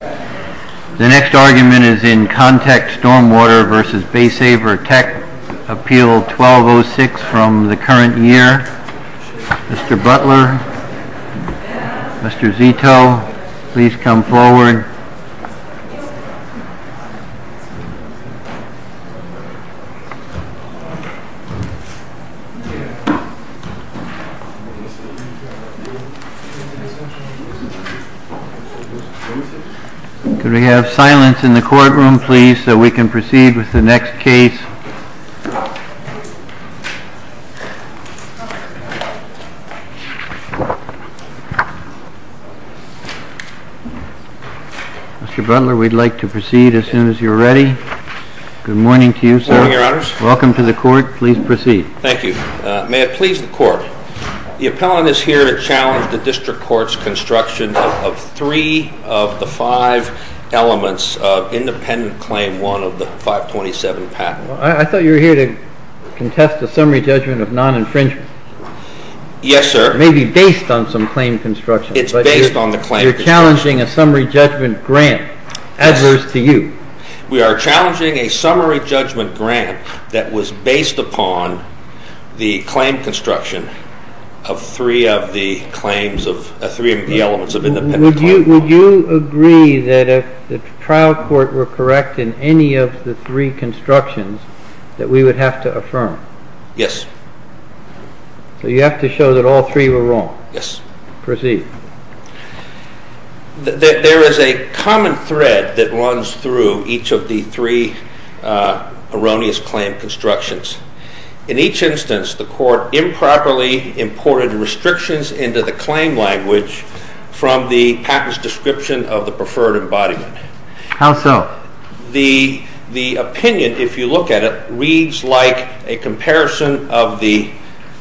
The next argument is in Contech Stormwater v. Baysaver Tech, Appeal 1206 from the current year. Mr. Butler, Mr. Zito, please come forward. Could we have silence in the courtroom, please, so we can proceed with the next case? Mr. Butler, we'd like to proceed as soon as you're ready. Good morning to you, sir. Good morning, Your Honors. Welcome to the court. Please proceed. Thank you. May it please the court, the appellant is here to challenge the district court's construction of three of the five elements of independent claim one of the 527 patent. I thought you were here to contest the summary judgment of non-infringement. Yes, sir. It may be based on some claim construction. It's based on the claim construction. You're challenging a summary judgment grant, adverse to you. We are challenging a summary judgment grant that was based upon the claim construction of three of the elements of independent claim one. Would you agree that if the trial court were correct in any of the three constructions that we would have to affirm? Yes. So you have to show that all three were wrong? Yes. Proceed. There is a common thread that runs through each of the three erroneous claim constructions. In each instance, the court improperly imported restrictions into the claim language from the patent's description of the preferred embodiment. How so? The opinion, if you look at it, reads like a comparison of the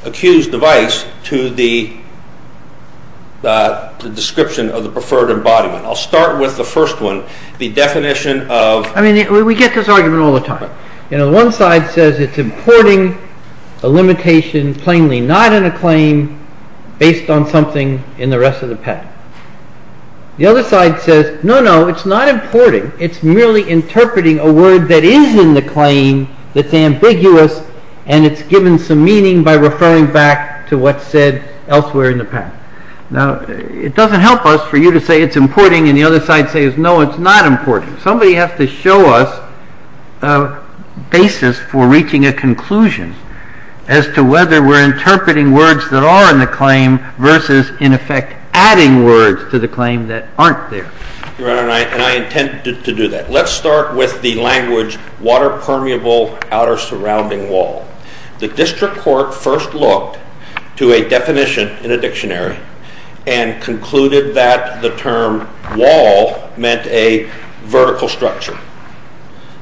accused device to the description of the preferred embodiment. I'll start with the first one, the definition of… I mean, we get this argument all the time. One side says it's importing a limitation plainly not in a claim based on something in the rest of the patent. The other side says, no, no, it's not importing. It's merely interpreting a word that is in the claim that's ambiguous and it's given some meaning by referring back to what's said elsewhere in the patent. Now, it doesn't help us for you to say it's importing and the other side says, no, it's not importing. Somebody has to show us a basis for reaching a conclusion as to whether we're interpreting words that are in the claim versus, in effect, adding words to the claim that aren't there. Your Honor, and I intend to do that. Let's start with the language water permeable outer surrounding wall. The district court first looked to a definition in a dictionary and concluded that the term wall meant a vertical structure.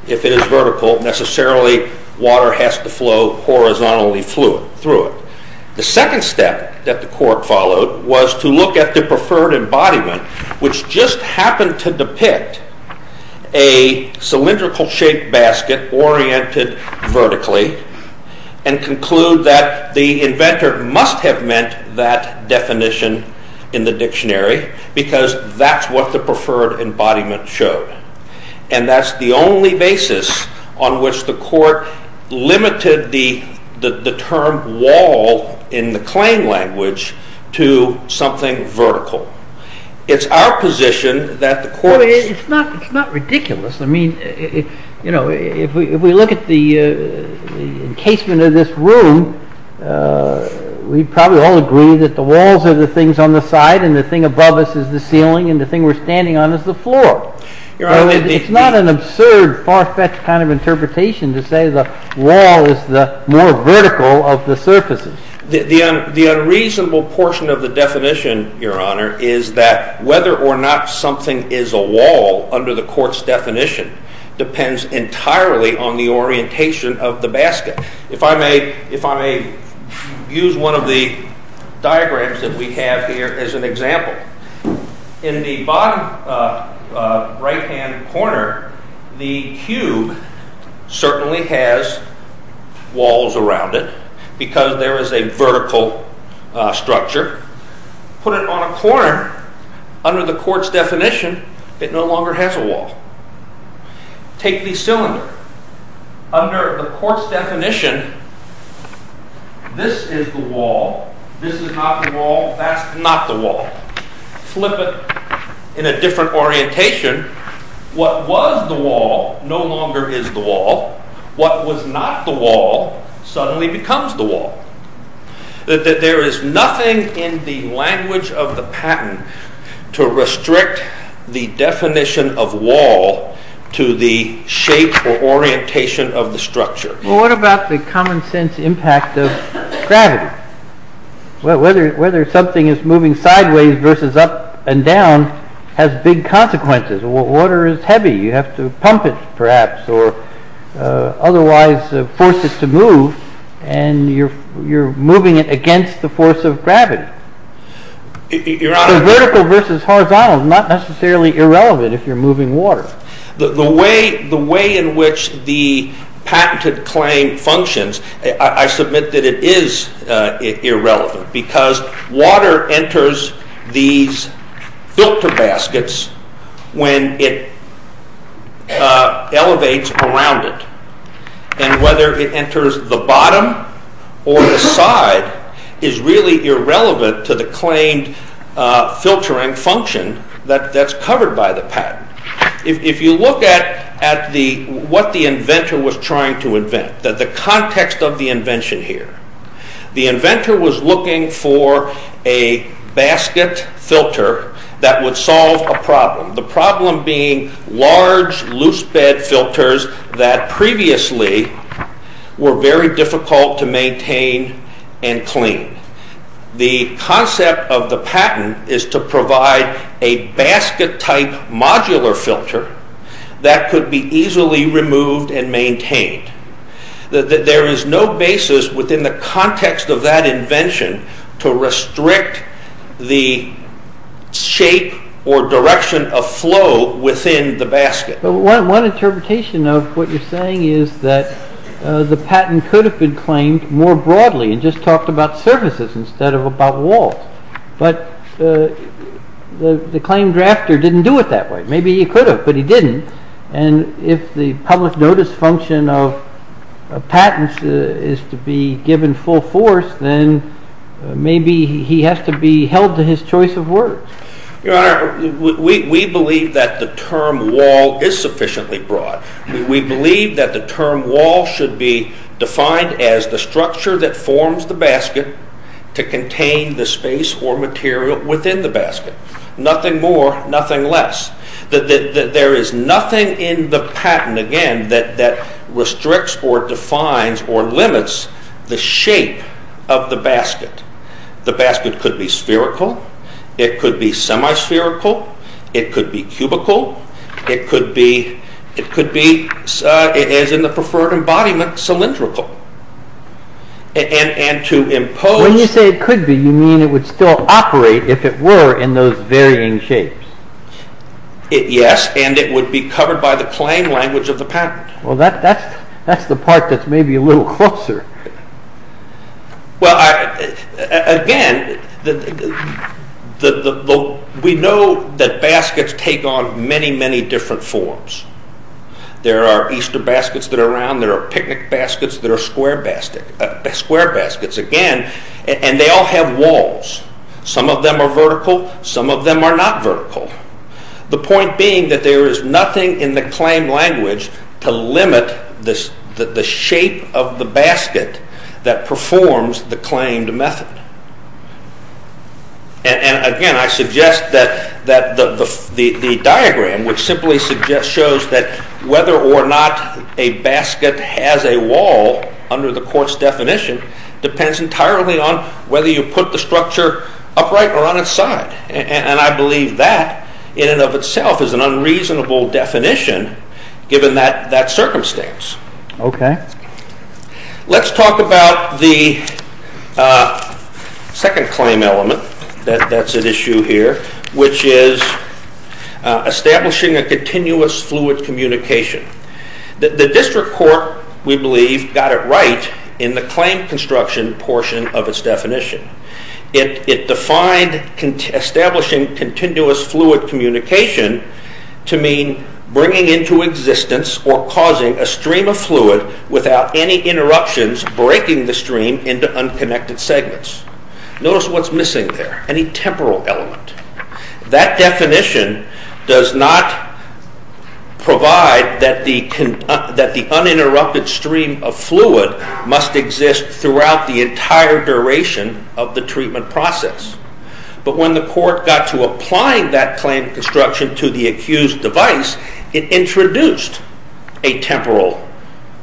If it is vertical, necessarily water has to flow horizontally through it. The second step that the court followed was to look at the preferred embodiment, which just happened to depict a cylindrical shaped basket oriented vertically, and conclude that the inventor must have meant that definition in the dictionary because that's what the preferred embodiment showed. And that's the only basis on which the court limited the term wall in the claim language to something vertical. It's our position that the court... It's not ridiculous. I mean, you know, if we look at the encasement of this room, we probably all agree that the walls are the things on the side and the thing above us is the ceiling and the thing we're standing on is the floor. It's not an absurd far-fetched kind of interpretation to say the wall is the more vertical of the surfaces. The unreasonable portion of the definition, Your Honor, is that whether or not something is a wall under the court's definition depends entirely on the orientation of the basket. If I may use one of the diagrams that we have here as an example. In the bottom right-hand corner, the cube certainly has walls around it because there is a vertical structure. Put it on a corner, under the court's definition, it no longer has a wall. Take the cylinder. Under the court's definition, this is the wall. This is not the wall. That's not the wall. Flip it in a different orientation. What was the wall no longer is the wall. What was not the wall suddenly becomes the wall. There is nothing in the language of the patent to restrict the definition of wall to the shape or orientation of the structure. What about the common sense impact of gravity? Whether something is moving sideways versus up and down has big consequences. Water is heavy. You have to pump it, perhaps, or otherwise force it to move, and you're moving it against the force of gravity. So vertical versus horizontal is not necessarily irrelevant if you're moving water. The way in which the patented claim functions, I submit that it is irrelevant because water enters these filter baskets when it elevates around it, and whether it enters the bottom or the side is really irrelevant to the claimed filtering function that's covered by the patent. If you look at what the inventor was trying to invent, the context of the invention here, the inventor was looking for a basket filter that would solve a problem, the problem being large loose bed filters that previously were very difficult to maintain and clean. The concept of the patent is to provide a basket type modular filter that could be easily removed and maintained. There is no basis within the context of that invention to restrict the shape or direction of flow within the basket. But one interpretation of what you're saying is that the patent could have been claimed more broadly and just talked about surfaces instead of about walls, but the claim drafter didn't do it that way. Maybe he could have, but he didn't, and if the public notice function of patents is to be given full force, then maybe he has to be held to his choice of words. Your Honor, we believe that the term wall is sufficiently broad. We believe that the term wall should be defined as the structure that forms the basket to contain the space or material within the basket. Nothing more, nothing less. There is nothing in the patent, again, that restricts or defines or limits the shape of the basket. The basket could be spherical. It could be semi-spherical. It could be cubical. It could be, as in the preferred embodiment, cylindrical. When you say it could be, you mean it would still operate if it were in those varying shapes. Yes, and it would be covered by the claim language of the patent. Well, that's the part that's maybe a little closer. Well, again, we know that baskets take on many, many different forms. There are Easter baskets that are round. There are picnic baskets that are square baskets, again, and they all have walls. Some of them are vertical. Some of them are not vertical. The point being that there is nothing in the claim language to limit the shape of the basket that performs the claimed method. And, again, I suggest that the diagram, which simply shows that whether or not a basket has a wall under the court's definition depends entirely on whether you put the structure upright or on its side, and I believe that in and of itself is an unreasonable definition given that circumstance. Okay. Let's talk about the second claim element that's at issue here, which is establishing a continuous fluid communication. The district court, we believe, got it right in the claim construction portion of its definition. It defined establishing continuous fluid communication to mean bringing into existence or causing a stream of fluid without any interruptions breaking the stream into unconnected segments. Notice what's missing there, any temporal element. That definition does not provide that the uninterrupted stream of fluid must exist throughout the entire duration of the treatment process. But when the court got to applying that claim construction to the accused device, it introduced a temporal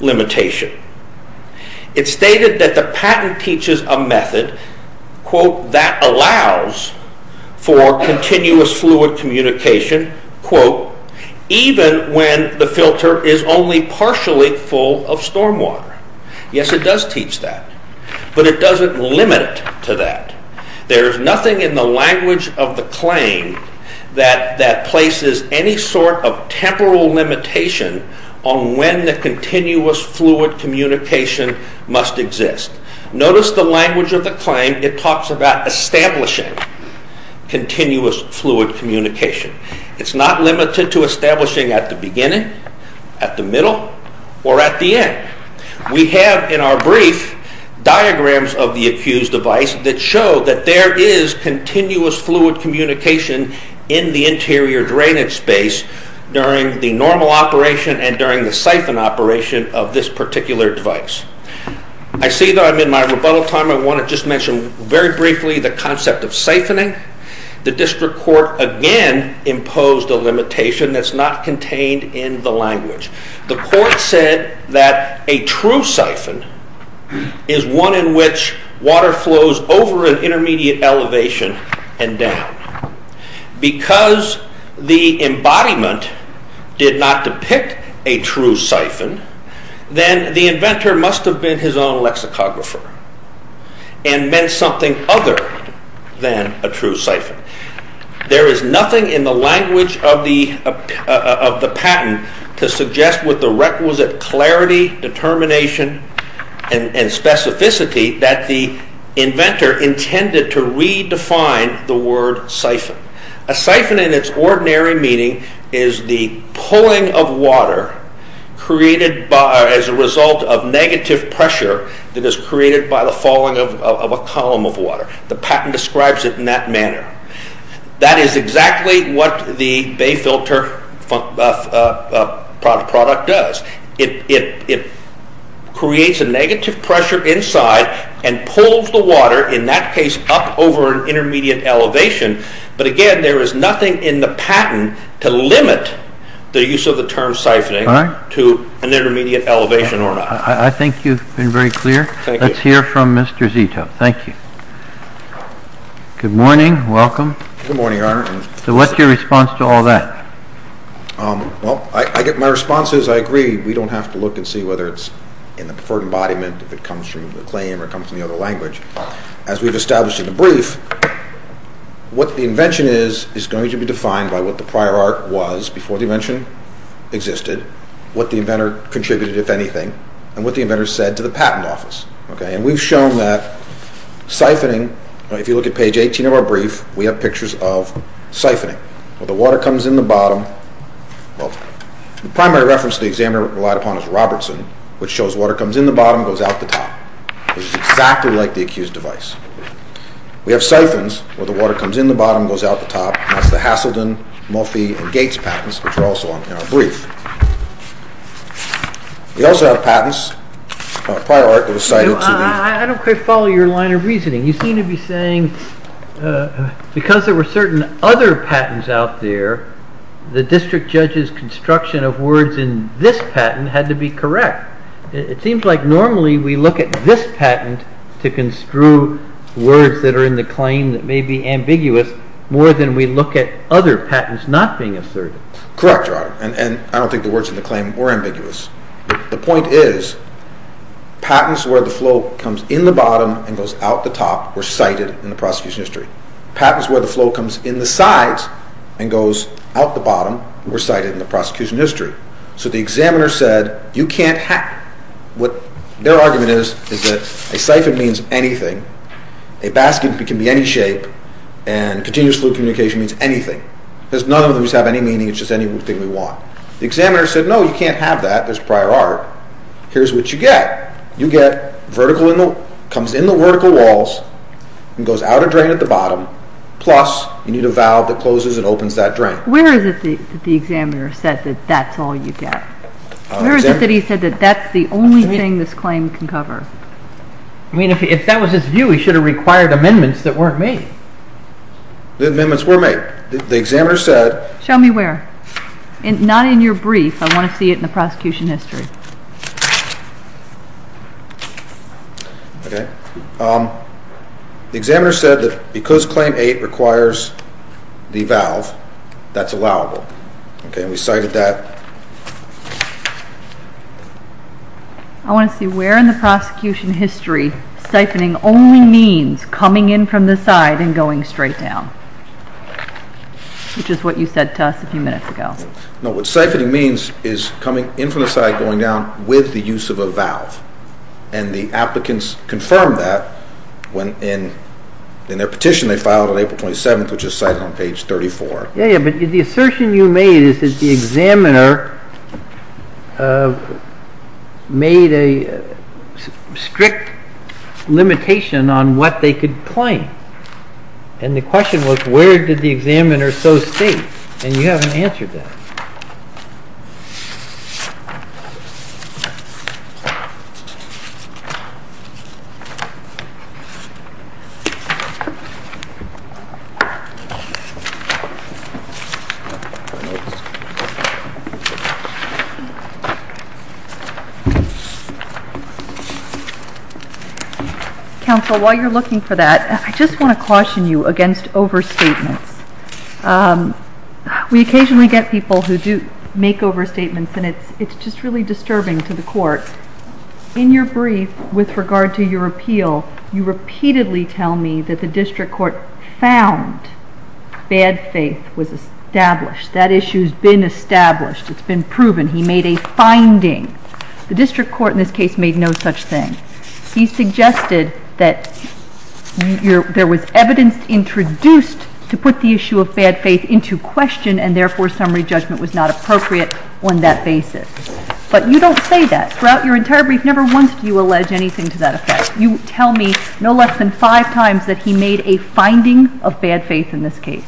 limitation. It stated that the patent teaches a method, quote, that allows for continuous fluid communication, quote, even when the filter is only partially full of stormwater. Yes, it does teach that, but it doesn't limit to that. There's nothing in the language of the claim that places any sort of temporal limitation on when the continuous fluid communication must exist. Notice the language of the claim. It talks about establishing continuous fluid communication. It's not limited to establishing at the beginning, at the middle, or at the end. We have in our brief diagrams of the accused device that show that there is continuous fluid communication in the interior drainage space during the normal operation and during the siphon operation of this particular device. I see that I'm in my rebuttal time. I want to just mention very briefly the concept of siphoning. The district court again imposed a limitation that's not contained in the language. The court said that a true siphon is one in which water flows over an intermediate elevation and down. Because the embodiment did not depict a true siphon, then the inventor must have been his own lexicographer and meant something other than a true siphon. There is nothing in the language of the patent to suggest with the requisite clarity, determination, and specificity that the inventor intended to redefine the word siphon. A siphon in its ordinary meaning is the pulling of water as a result of negative pressure that is created by the falling of a column of water. The patent describes it in that manner. That is exactly what the bay filter product does. It creates a negative pressure inside and pulls the water in that case up over an intermediate elevation. But again, there is nothing in the patent to limit the use of the term siphoning to an intermediate elevation or not. I think you've been very clear. Let's hear from Mr. Zito. Thank you. Good morning. Welcome. Good morning, Your Honor. So what's your response to all that? Well, my response is I agree we don't have to look and see whether it's in the preferred embodiment, if it comes from the claim or comes from the other language. As we've established in the brief, what the invention is is going to be defined by what the prior art was before the invention existed, what the inventor contributed, if anything, and what the inventor said to the patent office. And we've shown that siphoning, if you look at page 18 of our brief, we have pictures of siphoning, where the water comes in the bottom. The primary reference the examiner relied upon is Robertson, which shows water comes in the bottom and goes out the top, which is exactly like the accused device. We have siphons, where the water comes in the bottom and goes out the top, and that's the Hasselden, Murphy, and Gates patents, which are also in our brief. We also have patents, a prior art that was cited to me. I don't quite follow your line of reasoning. You seem to be saying because there were certain other patents out there, the district judge's construction of words in this patent had to be correct. It seems like normally we look at this patent to construe words that are in the claim that may be ambiguous more than we look at other patents not being assertive. Correct, Your Honor. And I don't think the words in the claim were ambiguous. The point is, patents where the flow comes in the bottom and goes out the top were cited in the prosecution history. Patents where the flow comes in the sides and goes out the bottom were cited in the prosecution history. So the examiner said, what their argument is, is that a siphon means anything, a basket can be any shape, and continuous fluid communication means anything. None of those have any meaning, it's just anything we want. The examiner said, no, you can't have that, there's prior art. Here's what you get. It comes in the vertical walls and goes out a drain at the bottom, plus you need a valve that closes and opens that drain. Where is it that the examiner said that that's all you get? Where is it that he said that that's the only thing this claim can cover? I mean, if that was his view, he should have required amendments that weren't made. The amendments were made. The examiner said… Show me where. Not in your brief, I want to see it in the prosecution history. The examiner said that because Claim 8 requires the valve, that's allowable. We cited that. I want to see where in the prosecution history siphoning only means coming in from the side and going straight down, which is what you said to us a few minutes ago. No, what siphoning means is coming in from the side, going down, with the use of a valve, and the applicants confirmed that in their petition they filed on April 27th, which is cited on page 34. Yes, but the assertion you made is that the examiner made a strict limitation on what they could claim. And the question was, where did the examiner so state? And you haven't answered that. Counsel, while you're looking for that, I just want to caution you against overstatements. We occasionally get people who do make overstatements, and it's just really disturbing to the court. In your brief, with regard to your appeal, you repeatedly tell me that the district court found bad faith with regard to your appeal. That issue's been established. It's been proven. He made a finding. The district court in this case made no such thing. He suggested that there was evidence introduced to put the issue of bad faith into question, and therefore summary judgment was not appropriate on that basis. But you don't say that. Throughout your entire brief, never once do you allege anything to that effect. You tell me no less than five times that he made a finding of bad faith in this case.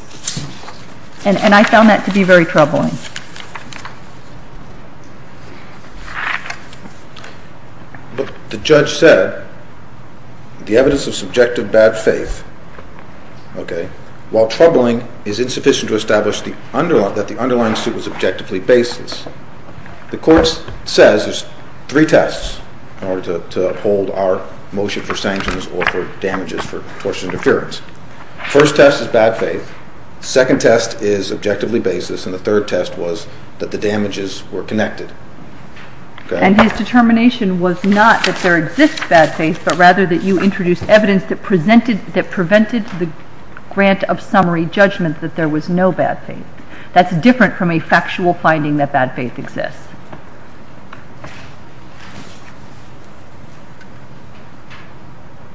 And I found that to be very troubling. Look, the judge said the evidence of subjective bad faith, while troubling, is insufficient to establish that the underlying suit was objectively baseless. The court says there's three tests in order to uphold our motion for sanctions or for damages for tortious interference. First test is bad faith. Second test is objectively baseless. And the third test was that the damages were connected. And his determination was not that there exists bad faith, but rather that you introduced evidence that prevented the grant of summary judgment that there was no bad faith. That's different from a factual finding that bad faith exists.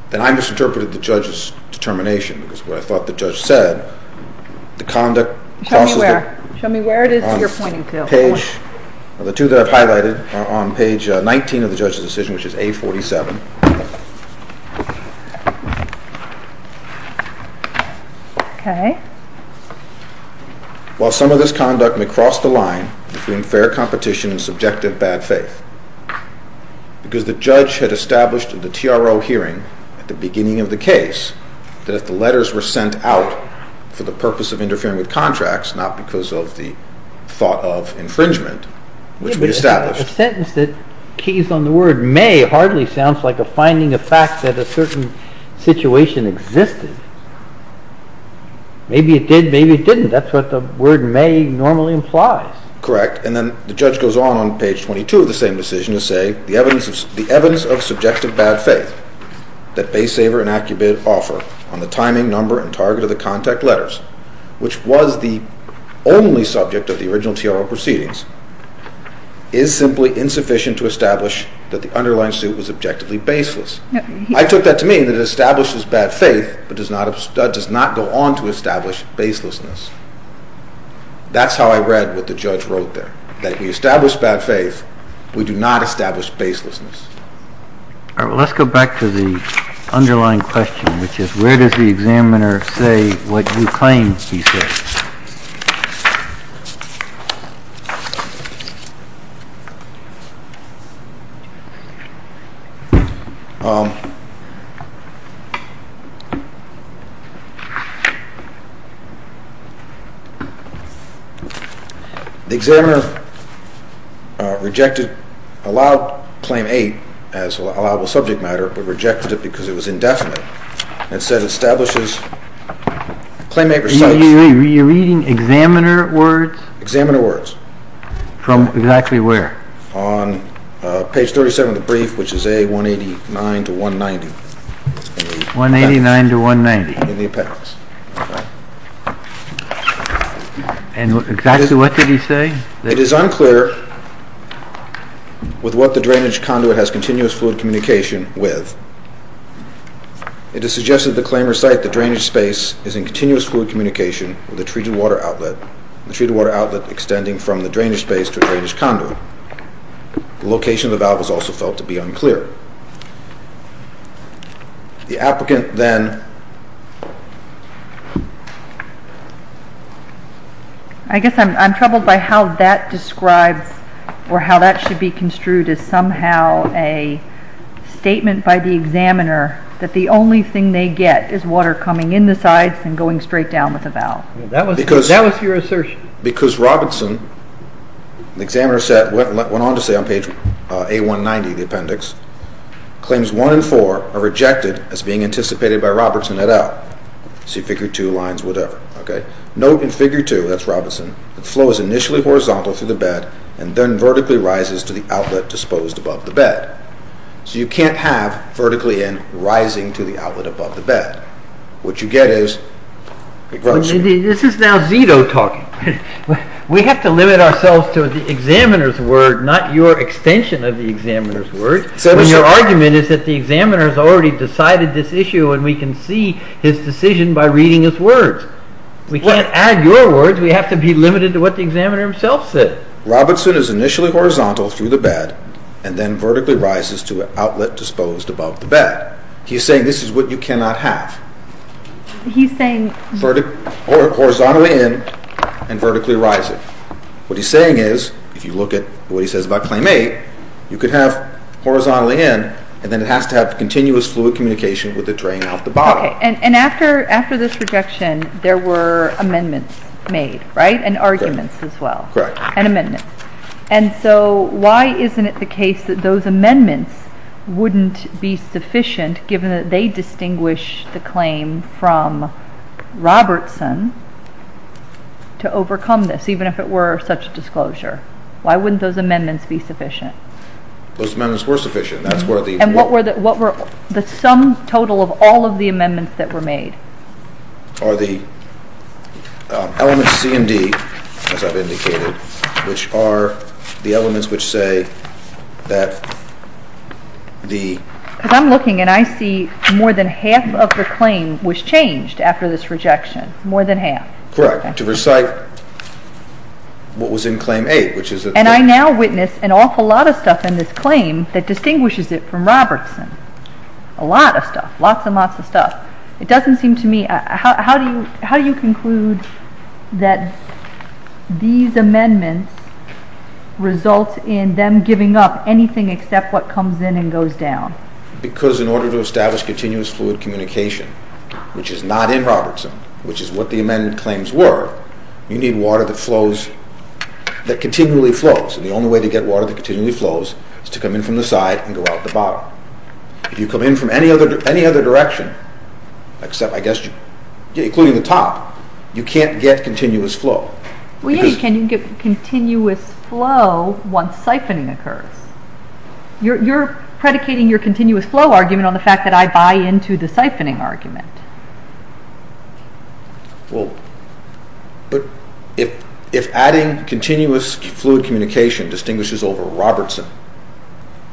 Then I misinterpreted the judge's determination, because what I thought the judge said, the conduct crosses the... Show me where. Show me where it is that you're pointing to. The two that I've highlighted are on page 19 of the judge's decision, which is A47. Okay. While some of this conduct may cross the line between fair competition and subjective bad faith, because the judge had established in the TRO hearing at the beginning of the case that if the letters were sent out for the purpose of interfering with contracts, not because of the thought of infringement, which we established... Yeah, but a sentence that keys on the word may hardly sounds like a finding of fact that a certain situation existed. Maybe it did, maybe it didn't. That's what the word may normally implies. Correct. And then the judge goes on on page 22 of the same decision to say the evidence of subjective bad faith. that Baysaver and Acubit offer on the timing, number, and target of the contact letters, which was the only subject of the original TRO proceedings, is simply insufficient to establish that the underlying suit was objectively baseless. I took that to mean that it establishes bad faith, but does not go on to establish baselessness. That's how I read what the judge wrote there, that we establish bad faith, we do not establish baselessness. Let's go back to the underlying question, which is, where does the examiner say what you claim he said? The examiner allowed claim 8 as allowable subject matter, but rejected it because it was indefinite, and said it establishes... You're reading examiner words? Examiner words. From exactly where? On page 37 of the brief, which is A189-190. 189-190. In the appendix. And exactly what did he say? It is unclear with what the drainage conduit has continuous fluid communication with. It is suggested that the claimer cite the drainage space is in continuous fluid communication with the treated water outlet, the treated water outlet extending from the drainage space to the drainage conduit. The location of the valve is also felt to be unclear. The applicant then... I guess I'm troubled by how that describes, or how that should be construed as somehow a statement by the examiner that the only thing they get is water coming in the sides and going straight down with the valve. That was your assertion. Because Robertson, the examiner went on to say on page A190 of the appendix, claims 1 and 4 are rejected as being anticipated by Robertson et al. See figure 2 lines, whatever. Note in figure 2, that's Robertson, the flow is initially horizontal through the bed and then vertically rises to the outlet disposed above the bed. So you can't have vertically in rising to the outlet above the bed. What you get is... This is now Zito talking. We have to limit ourselves to the examiner's word, not your extension of the examiner's word, when your argument is that the examiner has already decided this issue and we can see his decision by reading his words. We can't add your words, we have to be limited to what the examiner himself said. Robertson is initially horizontal through the bed and then vertically rises to the outlet disposed above the bed. He's saying this is what you cannot have. He's saying... Horizontally in and vertically rising. What he's saying is, if you look at what he says about claim 8, you could have horizontally in and then it has to have continuous fluid communication with the drain out the bottom. And after this rejection, there were amendments made, right? And arguments as well. And amendments. And so why isn't it the case that those amendments wouldn't be sufficient given that they distinguish the claim from Robertson to overcome this, even if it were such a disclosure? Why wouldn't those amendments be sufficient? Those amendments were sufficient. And what were the sum total of all of the amendments that were made? Are the elements C and D, as I've indicated, which are the elements which say that the... Because I'm looking and I see more than half of the claim was changed after this rejection. More than half. Correct. To recite what was in claim 8, which is... And I now witness an awful lot of stuff in this claim that distinguishes it from Robertson. A lot of stuff. Lots and lots of stuff. It doesn't seem to me... How do you conclude that these amendments result in them giving up anything except what comes in and goes down? Because in order to establish continuous fluid communication, which is not in Robertson, which is what the amendment claims were, you need water that flows... that continually flows. And the only way to get water that continually flows is to come in from the side and go out the bottom. If you come in from any other direction, except, I guess, including the top, you can't get continuous flow. Well, yeah, you can. You can get continuous flow once siphoning occurs. You're predicating your continuous flow argument on the fact that I buy into the siphoning argument. Well, but if adding continuous fluid communication distinguishes over Robertson,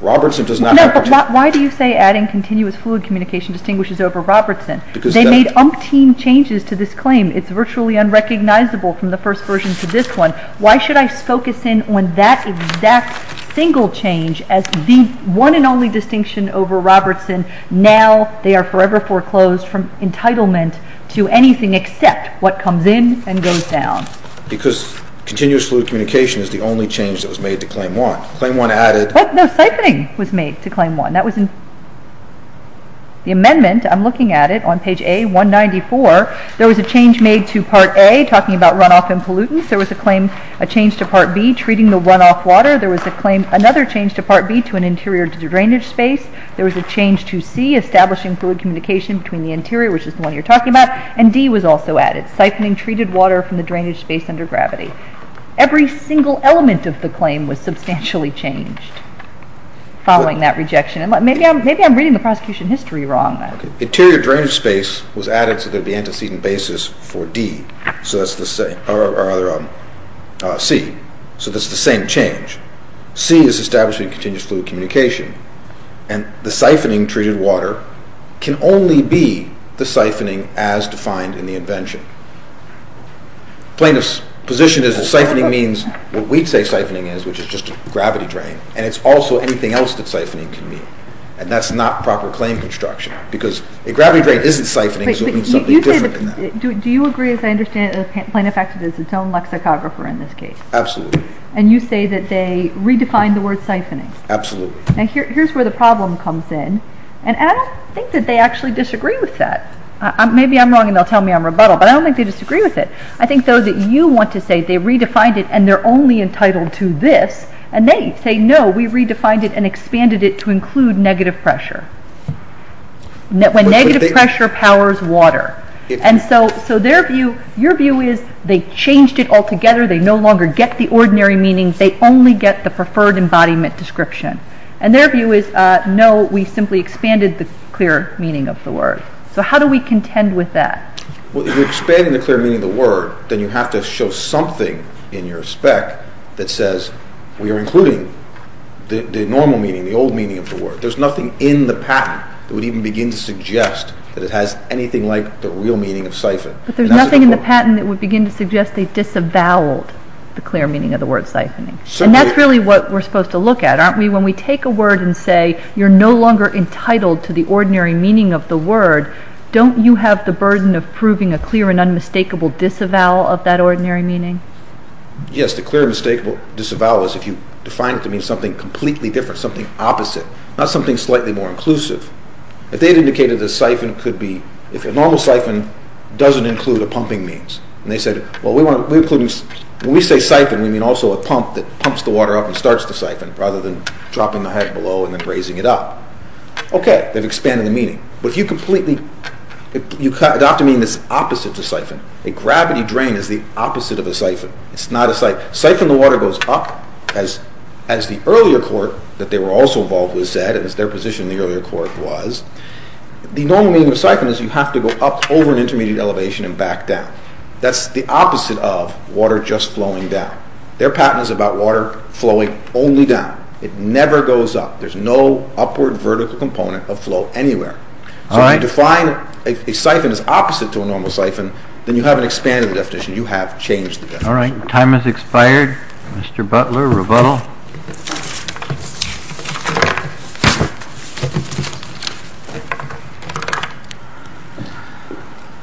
Robertson does not have to... No, but why do you say adding continuous fluid communication distinguishes over Robertson? They made umpteen changes to this claim. It's virtually unrecognizable from the first version to this one. Why should I focus in on that exact single change as the one and only distinction over Robertson? Now they are forever foreclosed from entitlement to anything except what comes in and goes down. Because continuous fluid communication is the only change that was made to Claim 1. Claim 1 added... What? No, siphoning was made to Claim 1. That was in the amendment. I'm looking at it on page A, 194. There was a change made to Part A talking about runoff and pollutants. There was a claim, a change to Part B treating the runoff water. There was a claim, another change to Part B to an interior drainage space. There was a change to C, establishing fluid communication between the interior, which is the one you're talking about, and D was also added, siphoning treated water from the drainage space under gravity. Every single element of the claim was substantially changed following that rejection. Maybe I'm reading the prosecution history wrong. Interior drainage space was added to the antecedent basis for D, or rather, C. So this is the same change. C is establishing continuous fluid communication. And the siphoning treated water can only be the siphoning as defined in the invention. Plaintiff's position is that siphoning means what we'd say siphoning is, which is just a gravity drain, and it's also anything else that siphoning can mean. And that's not proper claim construction because a gravity drain isn't siphoning, so it means something different than that. Do you agree, as I understand it, that Plaintiff-Executive is its own lexicographer in this case? Absolutely. And you say that they redefined the word siphoning? Absolutely. Now, here's where the problem comes in, and I don't think that they actually disagree with that. Maybe I'm wrong and they'll tell me I'm rebuttal, but I don't think they disagree with it. I think, though, that you want to say they redefined it and they're only entitled to this, and they say, no, we redefined it and expanded it to include negative pressure, when negative pressure powers water. And so their view, your view is they changed it altogether, they no longer get the ordinary meaning, they only get the preferred embodiment description. And their view is, no, we simply expanded the clear meaning of the word. So how do we contend with that? Well, if you're expanding the clear meaning of the word, then you have to show something in your spec that says, we are including the normal meaning, the old meaning of the word. There's nothing in the patent that would even begin to suggest that it has anything like the real meaning of siphon. But there's nothing in the patent that would begin to suggest they disavowed the clear meaning of the word siphoning. And that's really what we're supposed to look at, aren't we? When we take a word and say, you're no longer entitled to the ordinary meaning of the word, don't you have the burden of proving a clear and unmistakable disavowal of that ordinary meaning? Yes, the clear and unmistakable disavowal is if you define it to mean something completely different, something opposite, not something slightly more inclusive. If they had indicated that siphon could be, if a normal siphon doesn't include a pumping means, and they said, well, when we say siphon, we mean also a pump that pumps the water up and starts the siphon, Okay, they've expanded the meaning. But if you completely, you'd have to mean this opposite to siphon. A gravity drain is the opposite of a siphon. It's not a siphon. Siphon, the water goes up, as the earlier court that they were also involved with said, as their position in the earlier court was. The normal meaning of siphon is you have to go up over an intermediate elevation and back down. That's the opposite of water just flowing down. Their patent is about water flowing only down. It never goes up. There's no upward vertical component of flow anywhere. So if you define a siphon as opposite to a normal siphon, then you haven't expanded the definition. You have changed the definition. All right, time has expired. Mr. Butler, rebuttal.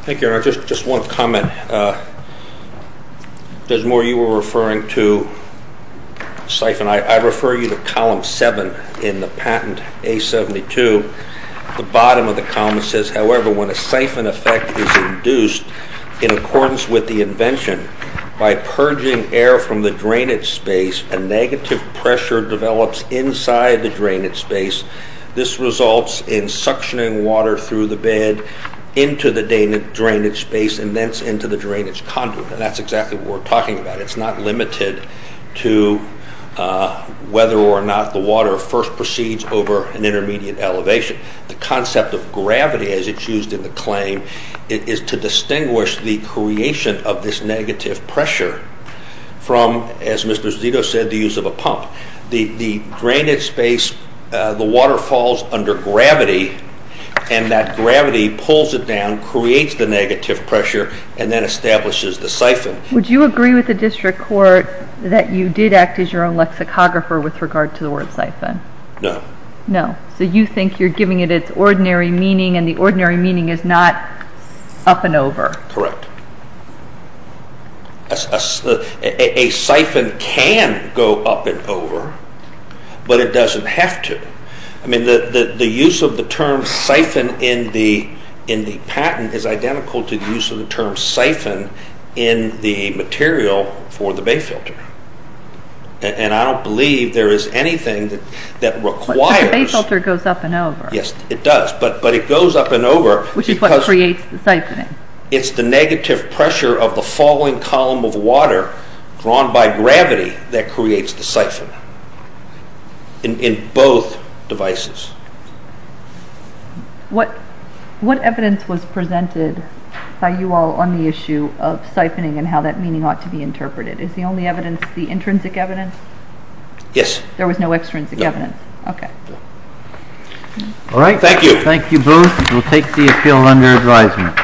Thank you. I just want to comment. Desmore, you were referring to siphon. I refer you to column 7 in the patent, A72. The bottom of the column says, however, when a siphon effect is induced, in accordance with the invention, by purging air from the drainage space, a negative pressure develops inside the drainage space. This results in suctioning water through the bed into the drainage space and thence into the drainage conduit. And that's exactly what we're talking about. It's not limited to whether or not the water first proceeds over an intermediate elevation. The concept of gravity, as it's used in the claim, is to distinguish the creation of this negative pressure from, as Mr. Zito said, the use of a pump. The drainage space, the water falls under gravity, and that gravity pulls it down, creates the negative pressure, and then establishes the siphon. Would you agree with the district court that you did act as your own lexicographer with regard to the word siphon? No. No. So you think you're giving it its ordinary meaning, and the ordinary meaning is not up and over. Correct. A siphon can go up and over, but it doesn't have to. I mean, the use of the term siphon in the patent is identical to the use of the term siphon in the material for the bay filter. And I don't believe there is anything that requires... But the bay filter goes up and over. Yes, it does, but it goes up and over... Which is what creates the siphoning. It's the negative pressure of the falling column of water drawn by gravity that creates the siphon in both devices. What evidence was presented by you all on the issue of siphoning and how that meaning ought to be interpreted? Is the only evidence the intrinsic evidence? Yes. There was no extrinsic evidence? No. Okay. All right. Thank you. Thank you both. We'll take the appeal under advisement.